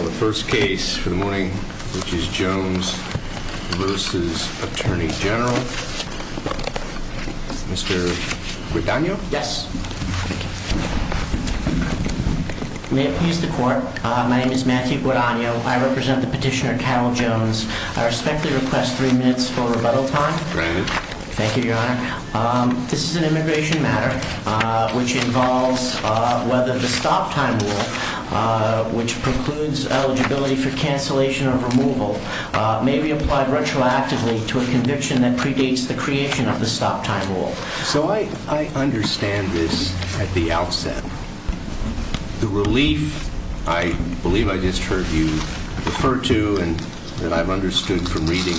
The first case for the morning which is Jones vs. Attorney General, Mr. Guadagno? Yes. Thank you. May it please the court, my name is Matthew Guadagno, I represent the petitioner Cal Jones. I respectfully request three minutes for rebuttal time. Granted. Thank you, your honor. This is an immigration matter which involves whether the stop time rule, which precludes eligibility for cancellation of removal, may be applied retroactively to a conviction that predates the creation of the stop time rule. So I understand this at the outset. The relief, I believe I just heard you refer to and that I've understood from reading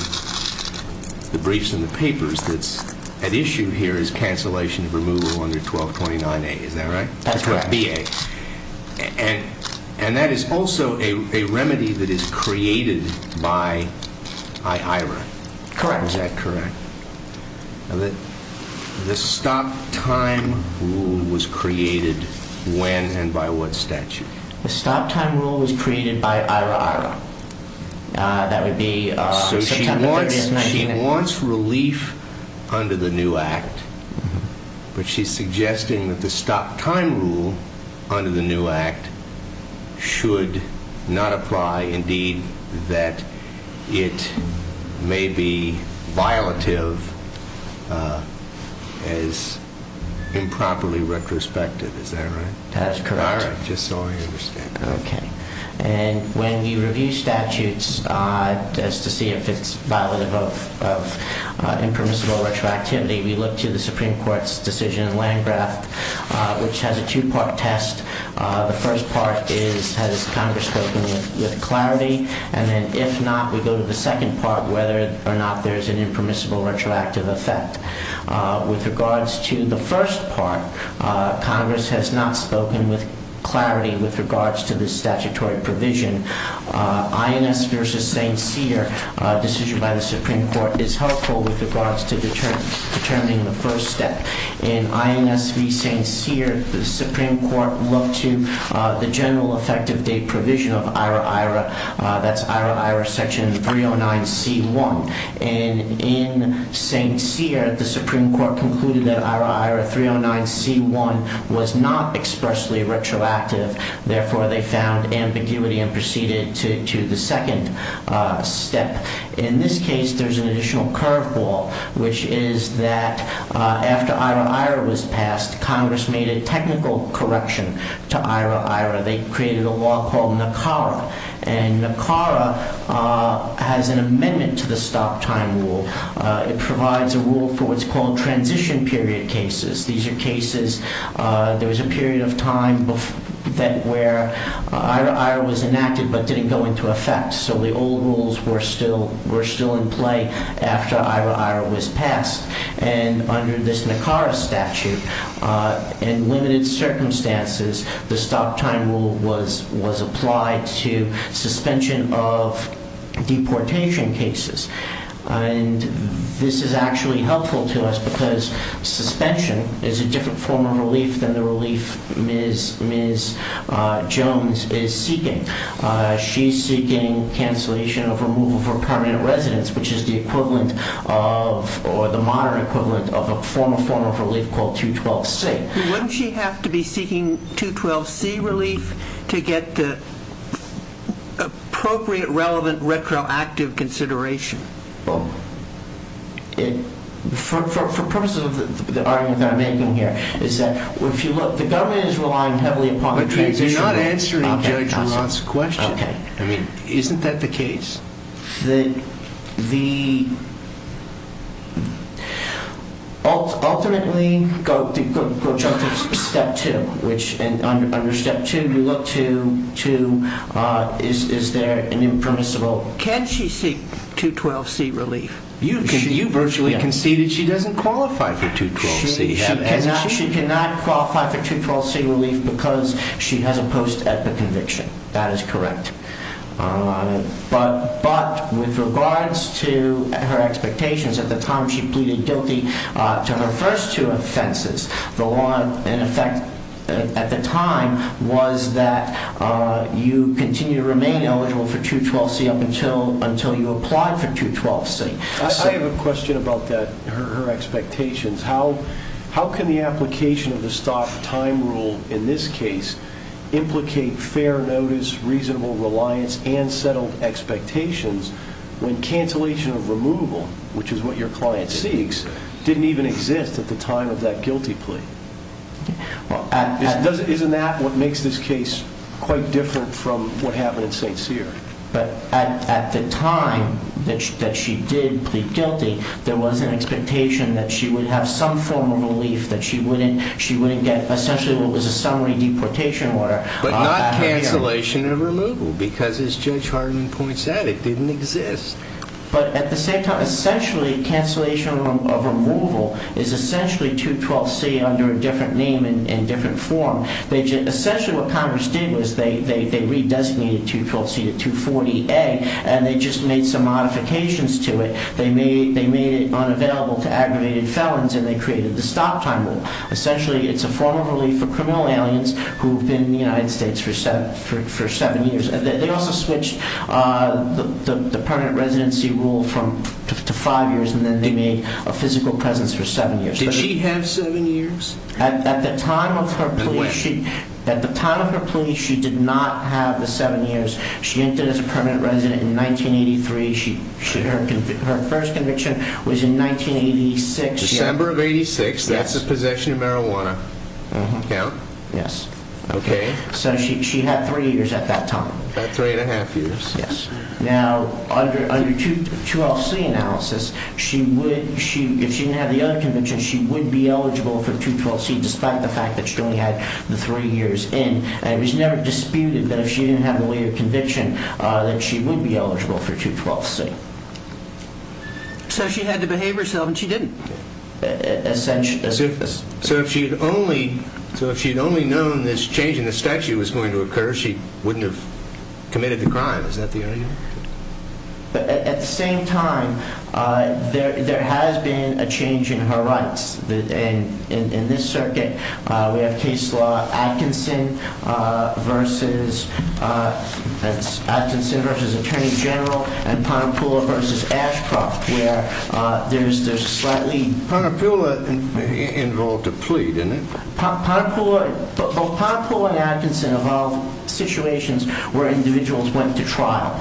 the briefs and the papers that's at issue here is cancellation of removal under 1229A, is that right? That's right. BA. And that is also a remedy that is created by IHRA. Correct. Is that correct? The stop time rule was created when and by what statute? The stop time rule was created by IHRA. That would be September 30th, 1990. So she wants relief under the new act, but she's suggesting that the stop time rule under the new act should not apply, indeed that it may be violative as improperly retrospective. Is that right? That is correct. All right. Just so I understand. Okay. And when we review statutes as to see if it's violative of impermissible retroactivity, we look to the Supreme Court's decision in Landgraf, which has a two-part test. The first part is, has Congress spoken with clarity? And then if not, we go to the second part, whether or not there's an impermissible retroactive effect. With regards to the first part, Congress has not spoken with clarity with regards to this statutory provision. INS v. St. Cyr decision by the Supreme Court is helpful with regards to determining the first step. In INS v. St. Cyr, the Supreme Court looked to the general effective date provision of IHRA-IHRA, that's IHRA-IHRA section 309c1. And in St. Cyr, the Supreme Court concluded that IHRA-IHRA 309c1 was not expressly retroactive. Therefore, they found ambiguity and proceeded to the second step. In this case, there's an additional curveball, which is that after IHRA-IHRA was passed, Congress made a technical correction to IHRA-IHRA. They created a law called NACARA. And NACARA has an amendment to the stop time rule. It provides a rule for what's called transition period cases. These are cases, there was a period of time where IHRA-IHRA was enacted, but didn't go into effect. So the old rules were still in play after IHRA-IHRA was passed. And under this NACARA statute, in limited circumstances, the stop time rule was applied to suspension of deportation cases. And this is actually helpful to us because suspension is a different form of relief than the relief Ms. Jones is seeking. She's seeking cancellation of removal from permanent residence, which is the equivalent of or the modern equivalent of a former form of relief called 212c. Wouldn't she have to be seeking 212c relief to get the appropriate, relevant, retroactive consideration? For purposes of the argument that I'm making here is that if you look, the government is relying heavily upon the transition period. But you're not answering Judge Laurent's question. Okay. Isn't that the case? Ultimately, go jump to step two, which under step two, you look to is there an impermissible Can she seek 212c relief? You virtually conceded she doesn't qualify for 212c. She cannot qualify for 212c relief because she has a post-EPA conviction. That is correct. But with regards to her expectations at the time she pleaded guilty to her first two offenses, the one in effect at the time was that you continue to remain eligible for 212c up until you applied for 212c. I have a question about her expectations. How can the application of the stop time rule in this case implicate fair notice, reasonable reliance, and settled expectations when cancellation of removal, which is what your client seeks, didn't even exist at the time of that guilty plea? Isn't that what makes this case quite different from what happened at St. Cyr? But at the time that she did plead guilty, there was an expectation that she would have some form of relief, that she wouldn't get essentially what was a summary deportation order. But not cancellation of removal, because as Judge Harden points out, it didn't exist. But at the same time, essentially cancellation of removal is essentially 212c under a different name and different form. Essentially what Congress did was they redesignated 212c to 240a, and they just made some modifications to it. They made it unavailable to aggravated felons, and they created the stop time rule. Essentially it's a form of relief for criminal aliens who've been in the United States for seven years. They also switched the permanent residency rule to five years, and then they made a physical presence for seven years. Did she have seven years? At the time of her plea, she did not have the seven years. She entered as a permanent resident in 1983. Her first conviction was in 1986. December of 86. That's the possession of marijuana count? Yes. Okay. So she had three years at that time. About three and a half years. Yes. Now, under 212c analysis, if she didn't have the other conviction, she would be eligible for 212c, despite the fact that she only had the three years in. And it was never disputed that if she didn't have the later conviction, that she would be eligible for 212c. So she had to behave herself, and she didn't. So if she had only known this change in the statute was going to occur, she wouldn't have committed the crime. Is that the area? At the same time, there has been a change in her rights. In this circuit, we have case law Atkinson v. Attorney General and Ponipulla v. Ashcroft, where there's slightly... Ponipulla involved a plea, didn't it? Both Ponipulla and Atkinson involved situations where individuals went to trial.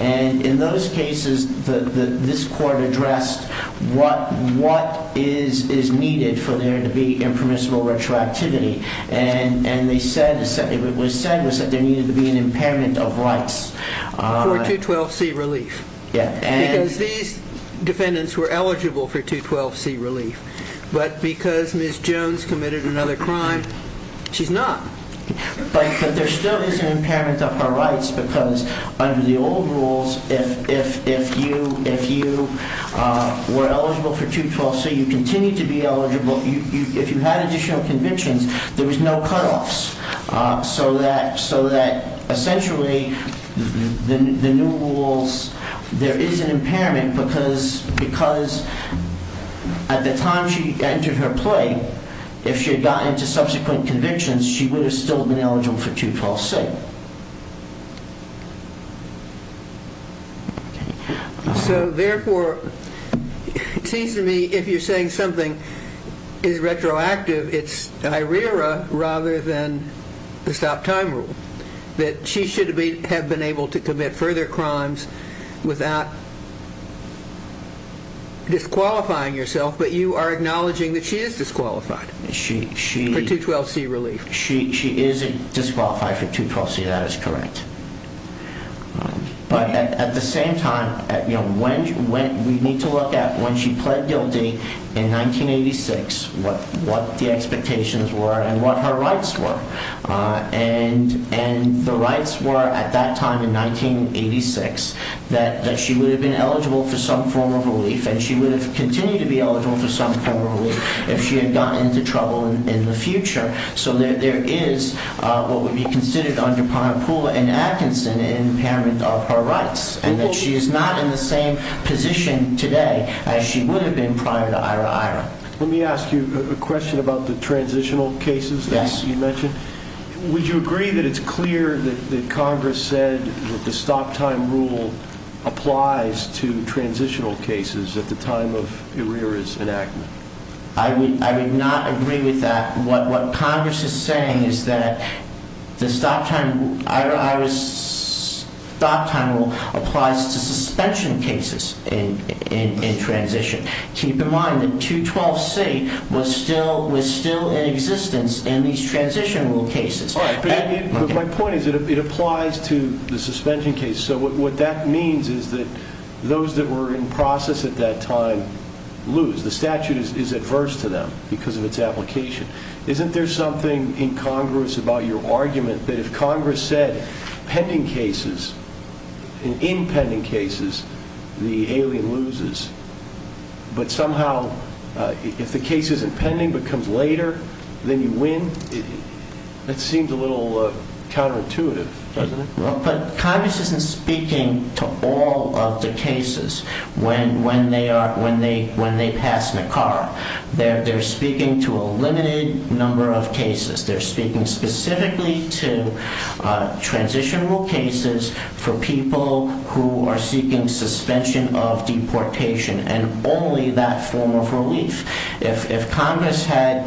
And in those cases, this court addressed what is needed for there to be impermissible retroactivity. And what it said was that there needed to be an impairment of rights. For 212c relief. Yes. Because these defendants were eligible for 212c relief. But because Ms. Jones committed another crime, she's not. But there still is an impairment of her rights, because under the old rules, if you were eligible for 212c, you continued to be eligible. If you had additional convictions, there was no cutoffs. So that essentially, the new rules, there is an impairment because at the time she entered her plea, if she had gotten into subsequent convictions, she would have still been eligible for 212c. So therefore, it seems to me if you're saying something is retroactive, it's IRERA rather than the stop time rule. That she should have been able to commit further crimes without disqualifying yourself, but you are acknowledging that she is disqualified for 212c relief. 212c, that is correct. But at the same time, we need to look at when she pled guilty in 1986, what the expectations were and what her rights were. And the rights were at that time in 1986, that she would have been eligible for some form of relief and she would have continued to be eligible for some form of relief if she had gotten into trouble in the future. So there is what would be considered under Parnapula and Atkinson an impairment of her rights. And that she is not in the same position today as she would have been prior to IRERA. Let me ask you a question about the transitional cases that you mentioned. Would you agree that it's clear that Congress said that the stop time rule applies to transitional cases at the time of IRERA's enactment? I would not agree with that. What Congress is saying is that the stop time rule applies to suspension cases in transition. Keep in mind that 212c was still in existence in these transitional cases. But my point is that it applies to the suspension cases. So what that means is that those that were in process at that time lose. The statute is adverse to them because of its application. Isn't there something in Congress about your argument that if Congress said pending cases, in impending cases, the alien loses? But somehow if the case isn't pending but comes later, then you win? That seems a little counterintuitive, doesn't it? Congress isn't speaking to all of the cases when they pass NACARA. They're speaking to a limited number of cases. They're speaking specifically to transitional cases for people who are seeking suspension of deportation and only that form of relief. If Congress could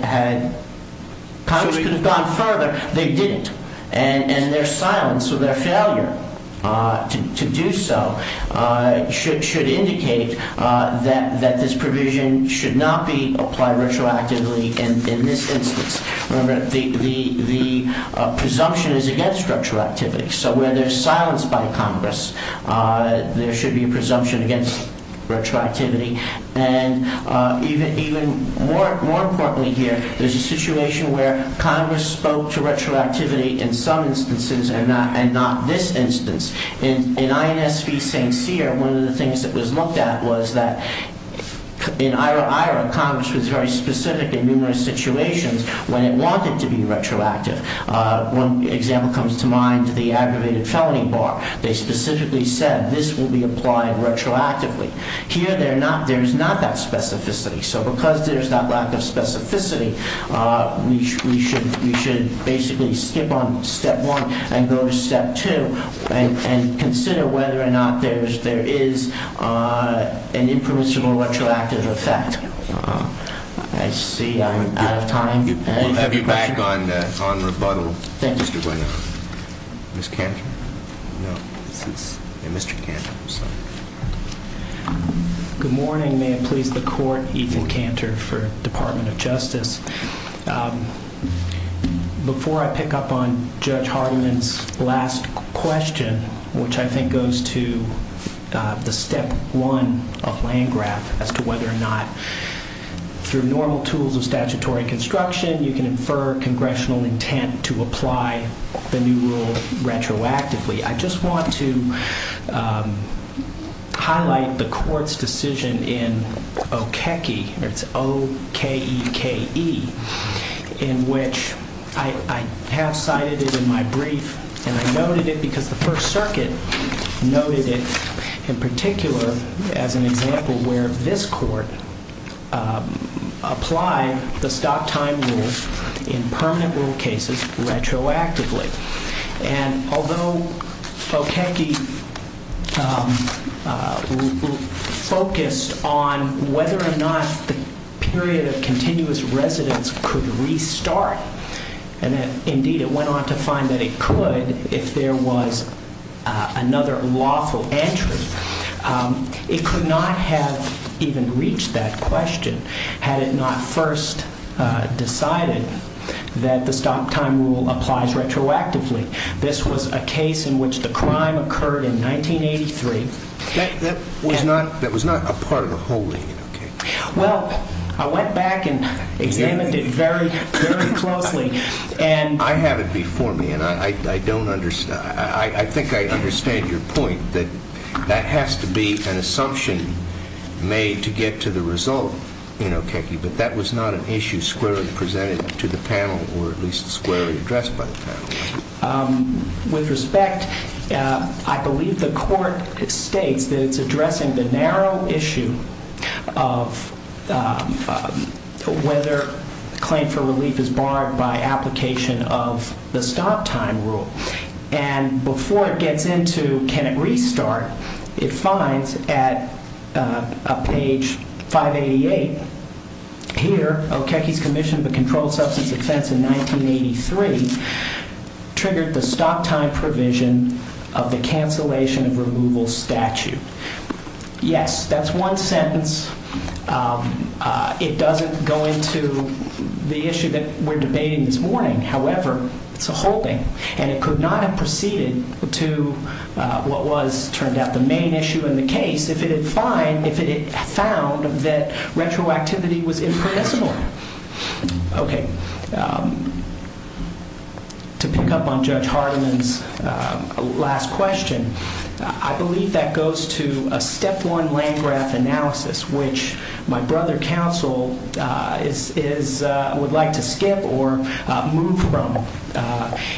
have gone further, they didn't. Their silence or their failure to do so should indicate that this provision should not be applied retroactively in this instance. Remember, the presumption is against retroactivity. So where there's silence by Congress, there should be a presumption against retroactivity. And even more importantly here, there's a situation where Congress spoke to retroactivity in some instances and not this instance. In INS v. St. Cyr, one of the things that was looked at was that in IRA-IRA, Congress was very specific in numerous situations when it wanted to be retroactive. One example comes to mind, the aggravated felony bar. They specifically said this will be applied retroactively. Here, there's not that specificity. So because there's that lack of specificity, we should basically skip on step one and go to step two and consider whether or not there is an impermissible retroactive effect. I see I'm out of time. Thank you. Ms. Cantor? No, this is Mr. Cantor. Good morning. May it please the Court, Ethan Cantor for Department of Justice. Before I pick up on Judge Hardiman's last question, which I think goes to the step one of Landgraf as to whether or not through normal tools of statutory construction, you can infer congressional intent to apply the new rule retroactively, I just want to highlight the Court's decision in Okeke, it's O-K-E-K-E, in which I have cited it in my brief, and I noted it because the First Circuit noted it in particular as an example where this Court applied the stop time rule in permanent rule cases retroactively. And although Okeke focused on whether or not the period of continuous residence could restart, and indeed it went on to find that it could if there was another lawful entry, it could not have even reached that question had it not first decided that the stop time rule applies retroactively. This was a case in which the crime occurred in 1983. That was not a part of the whole thing in Okeke. Well, I went back and examined it very, very closely. I have it before me, and I think I understand your point that that has to be an assumption made to get to the result in Okeke, but that was not an issue squarely presented to the panel, or at least squarely addressed by the panel. With respect, I believe the Court states that it's addressing the narrow issue of whether claim for relief is barred by application of the stop time rule. And before it gets into can it restart, it finds at page 588 here, Okeke's commission of a controlled substance offense in 1983 triggered the stop time provision of the cancellation of removal statute. Yes, that's one sentence. It doesn't go into the issue that we're debating this morning. However, it's a whole thing, and it could not have proceeded to what was, turned out, the main issue in the case if it had found that retroactivity was impermissible. Okay. To pick up on Judge Hardiman's last question, I believe that goes to a step one Landgraf analysis, which my brother counsel would like to skip or move from.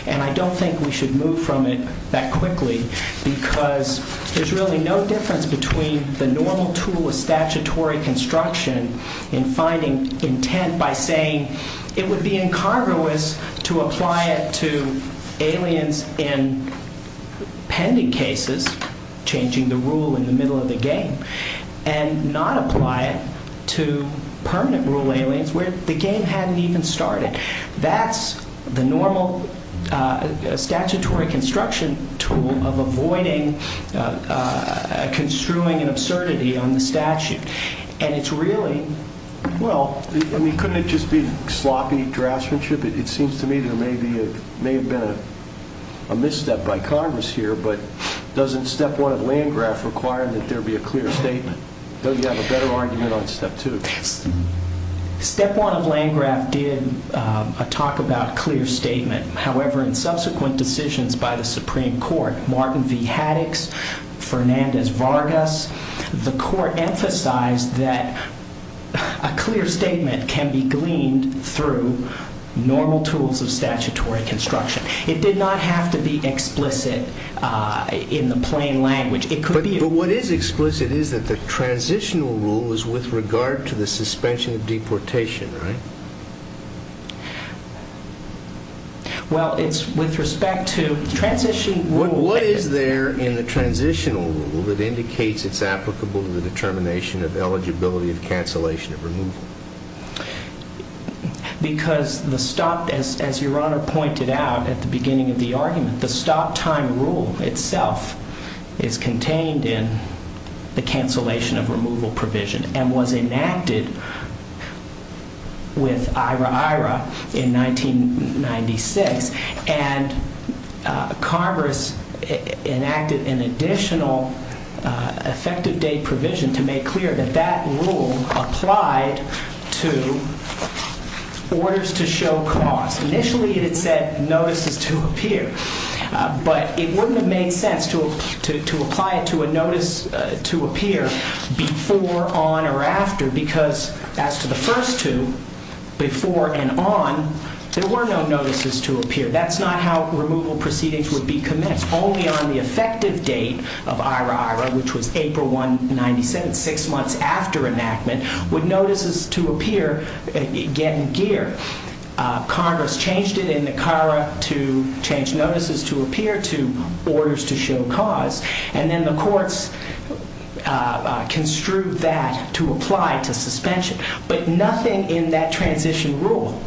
And I don't think we should move from it that quickly, because there's really no difference between the normal tool of statutory construction in finding intent by saying it would be incongruous to apply it to aliens in pending cases, changing the rule in the middle of the game, and not apply it to permanent rule aliens where the game hadn't even started. That's the normal statutory construction tool of avoiding construing an absurdity on the statute. And it's really... Well, I mean, couldn't it just be sloppy draftsmanship? It seems to me there may have been a misstep by Congress here, but doesn't step one of Landgraf require that there be a clear statement? Don't you have a better argument on step two? Step one of Landgraf did a talk about clear statement. However, in subsequent decisions by the Supreme Court, Martin V. Haddix, Fernandez Vargas, the court emphasized that a clear statement can be gleaned through normal tools of statutory construction. It did not have to be explicit in the plain language. But what is explicit is that the transitional rule is with regard to the suspension of deportation, right? Well, it's with respect to transition... What is there in the transitional rule that indicates it's applicable to the determination of eligibility of cancellation of removal? Because the stop, as Your Honor pointed out at the beginning of the argument, the stop time rule itself is contained in the cancellation of removal provision and was enacted with IRA-IRA in 1996. And Congress enacted an additional effective date provision to make clear that that rule applied to orders to show cause. Initially, it had said notices to appear. But it wouldn't have made sense to apply it to a notice to appear before, on, or after because as to the first two, before and on, there were no notices to appear. That's not how removal proceedings would be commenced. Only on the effective date of IRA-IRA, which was April 1, 1997, six months after enactment, would notices to appear get in gear. Congress changed it in the CARA to change notices to appear to orders to show cause. And then the courts construed that to apply to suspension. But nothing in that transition rule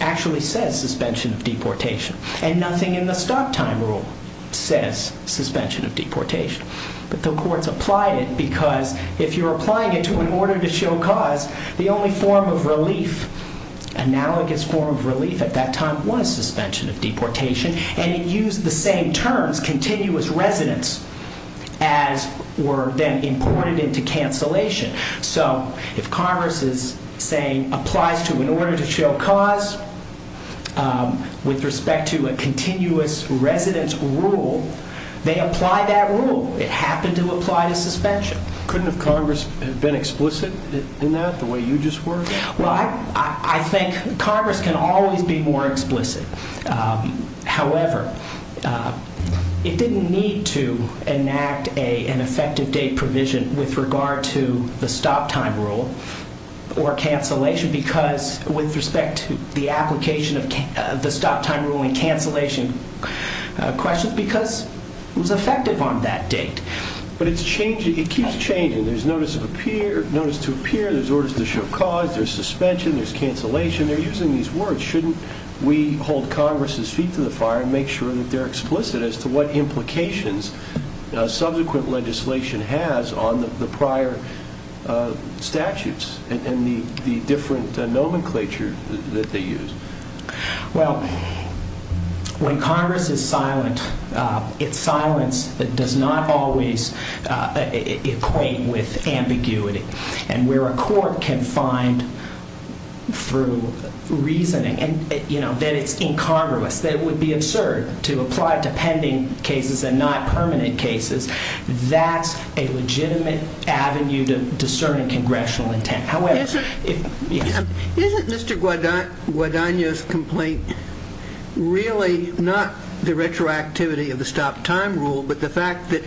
actually says suspension of deportation. And nothing in the stop time rule says suspension of deportation. But the courts applied it because if you're applying it to an order to show cause, the only form of relief, analogous form of relief at that time, was suspension of deportation. And it used the same terms, continuous residence, as were then imported into cancellation. So if Congress is saying applies to an order to show cause with respect to a continuous residence rule, they apply that rule. It happened to apply to suspension. Couldn't Congress have been explicit in that the way you just were? Well, I think Congress can always be more explicit. However, it didn't need to enact an effective date provision with regard to the stop time rule or cancellation because with respect to the application of the stop time rule and cancellation questions, because it was effective on that date. But it keeps changing. There's notice to appear. There's orders to show cause. There's suspension. There's cancellation. They're using these words. Shouldn't we hold Congress' feet to the fire and make sure that they're explicit as to what implications subsequent legislation has on the prior statutes and the different nomenclature that they use? Well, when Congress is silent, its silence does not always equate with ambiguity. And where a court can find through reasoning that it's incongruous, that it would be absurd to apply it to pending cases and not permanent cases, that's a legitimate avenue to discerning congressional intent. Isn't Mr. Guadagno's complaint really not the retroactivity of the stop time rule but the fact that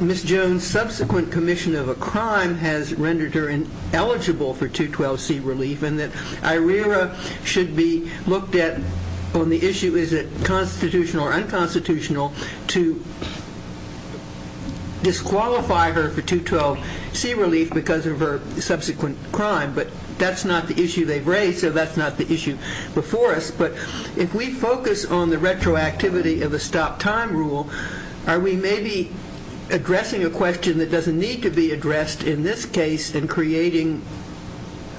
Ms. Jones' subsequent commission of a crime has rendered her eligible for 212C relief and that IRERA should be looked at on the issue, is it constitutional or unconstitutional, to disqualify her for 212C relief because of her subsequent crime? But that's not the issue they've raised, so that's not the issue before us. But if we focus on the retroactivity of a stop time rule, are we maybe addressing a question that doesn't need to be addressed in this case and creating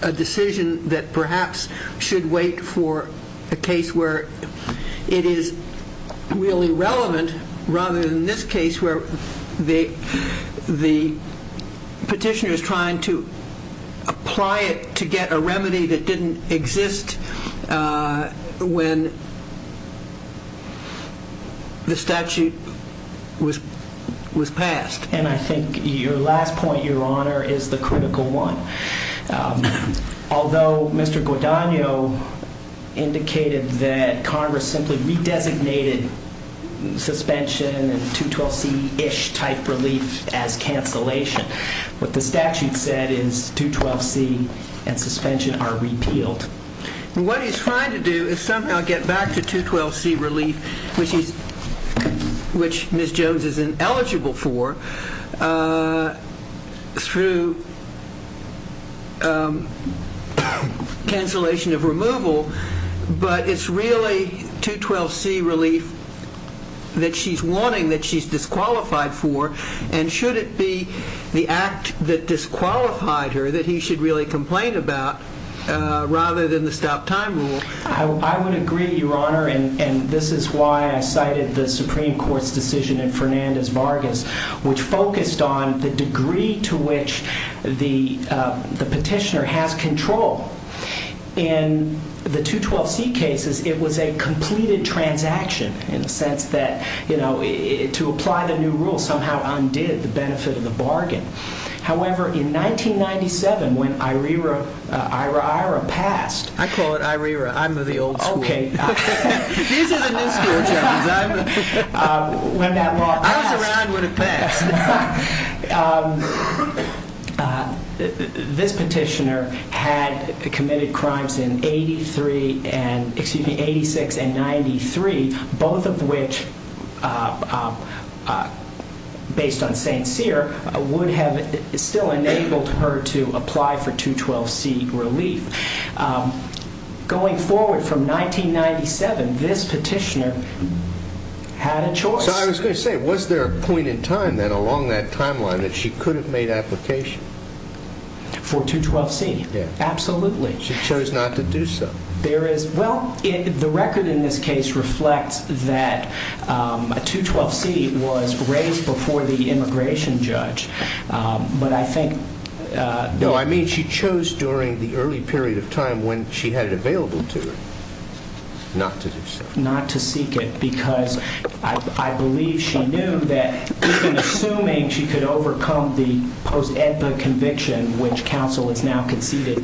a decision that perhaps should wait for a case where it is really relevant rather than this case where the petitioner is trying to apply it to get a remedy that didn't exist when the statute was passed? And I think your last point, Your Honor, is the critical one. Although Mr. Guadagno indicated that Congress simply redesignated suspension and 212C-ish type relief as cancellation, what the statute said is 212C and suspension are repealed. What he's trying to do is somehow get back to 212C relief, which Ms. Jones is eligible for, through cancellation of removal, but it's really 212C relief that she's wanting, that she's disqualified for, and should it be the act that disqualified her that he should really complain about rather than the stop time rule? I would agree, Your Honor, and this is why I cited the Supreme Court's decision in Fernandez-Vargas, which focused on the degree to which the petitioner has control. In the 212C cases, it was a completed transaction in the sense that, you know, to apply the new rule somehow undid the benefit of the bargain. However, in 1997, when IRAIRA passed, I call it IRAIRA. I'm of the old school. Okay. These are the new school Germans. When that law passed. I was around when it passed. This petitioner had committed crimes in 86 and 93, both of which, based on St. Cyr, would have still enabled her to apply for 212C relief. Going forward from 1997, this petitioner had a choice. So I was going to say, was there a point in time then along that timeline that she could have made application? For 212C? Yes. Absolutely. She chose not to do so. Well, the record in this case reflects that 212C was raised before the immigration judge. No, I mean she chose during the early period of time when she had it available to her not to do so. Not to seek it because I believe she knew that, even assuming she could overcome the post-edva conviction, which counsel has now conceded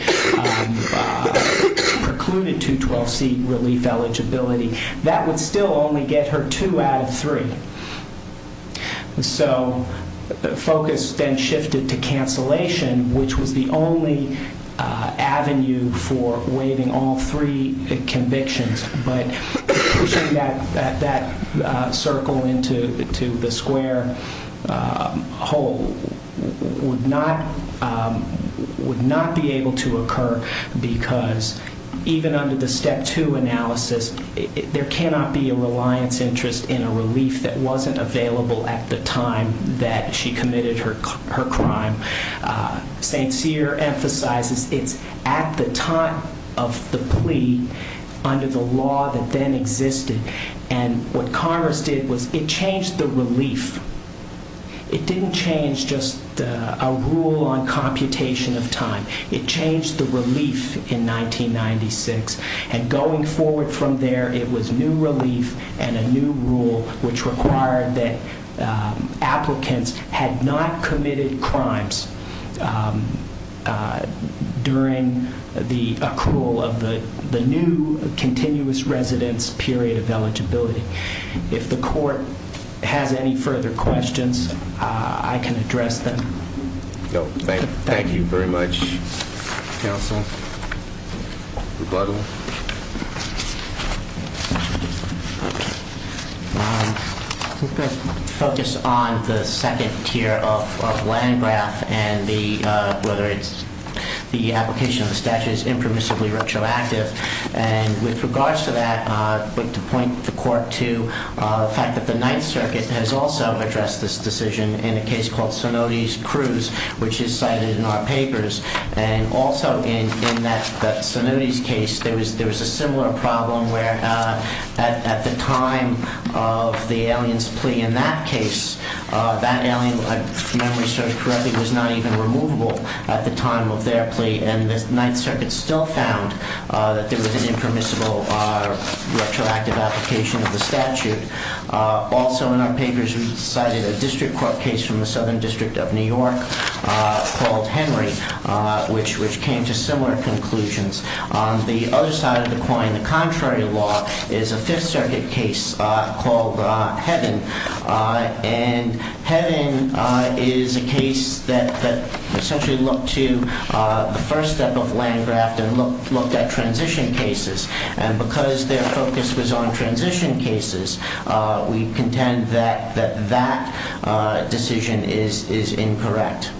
precluded 212C relief eligibility, that would still only get her two out of three. So the focus then shifted to cancellation, which was the only avenue for waiving all three convictions. But pushing that circle into the square hole would not be able to occur because even under the Step 2 analysis, there cannot be a reliance interest in a relief that wasn't available at the time that she committed her crime. St. Cyr emphasizes it's at the time of the plea under the law that then existed. And what Congress did was it changed the relief. It didn't change just a rule on computation of time. It changed the relief in 1996. And going forward from there, it was new relief and a new rule, which required that applicants had not committed crimes during the accrual of the new continuous residence period of eligibility. If the court has any further questions, I can address them. Rebuttal. I'm going to focus on the second tier of Landgraf and whether the application of the statute is impermissibly retroactive. And with regards to that, I'd like to point the court to the fact that the Ninth Circuit has also addressed this decision in a case called Sonotes Cruz, which is cited in our papers. And also in that Sonotes case, there was a similar problem where at the time of the alien's plea in that case, that alien, if my memory serves correctly, was not even removable at the time of their plea. And the Ninth Circuit still found that there was an impermissible retroactive application of the statute. Also in our papers, we cited a district court case from the Southern District of New York called Henry, which came to similar conclusions. On the other side of the coin, the contrary law is a Fifth Circuit case called Heaven. And Heaven is a case that essentially looked to the first step of Landgraf and looked at transition cases. And because their focus was on transition cases, we contend that that decision is incorrect.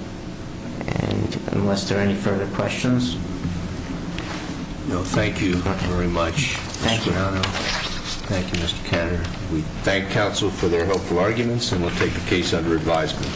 And unless there are any further questions... No, thank you very much, Mr. Granado. Thank you. Thank you, Mr. Kanner. We thank counsel for their helpful arguments and will take the case under advisement.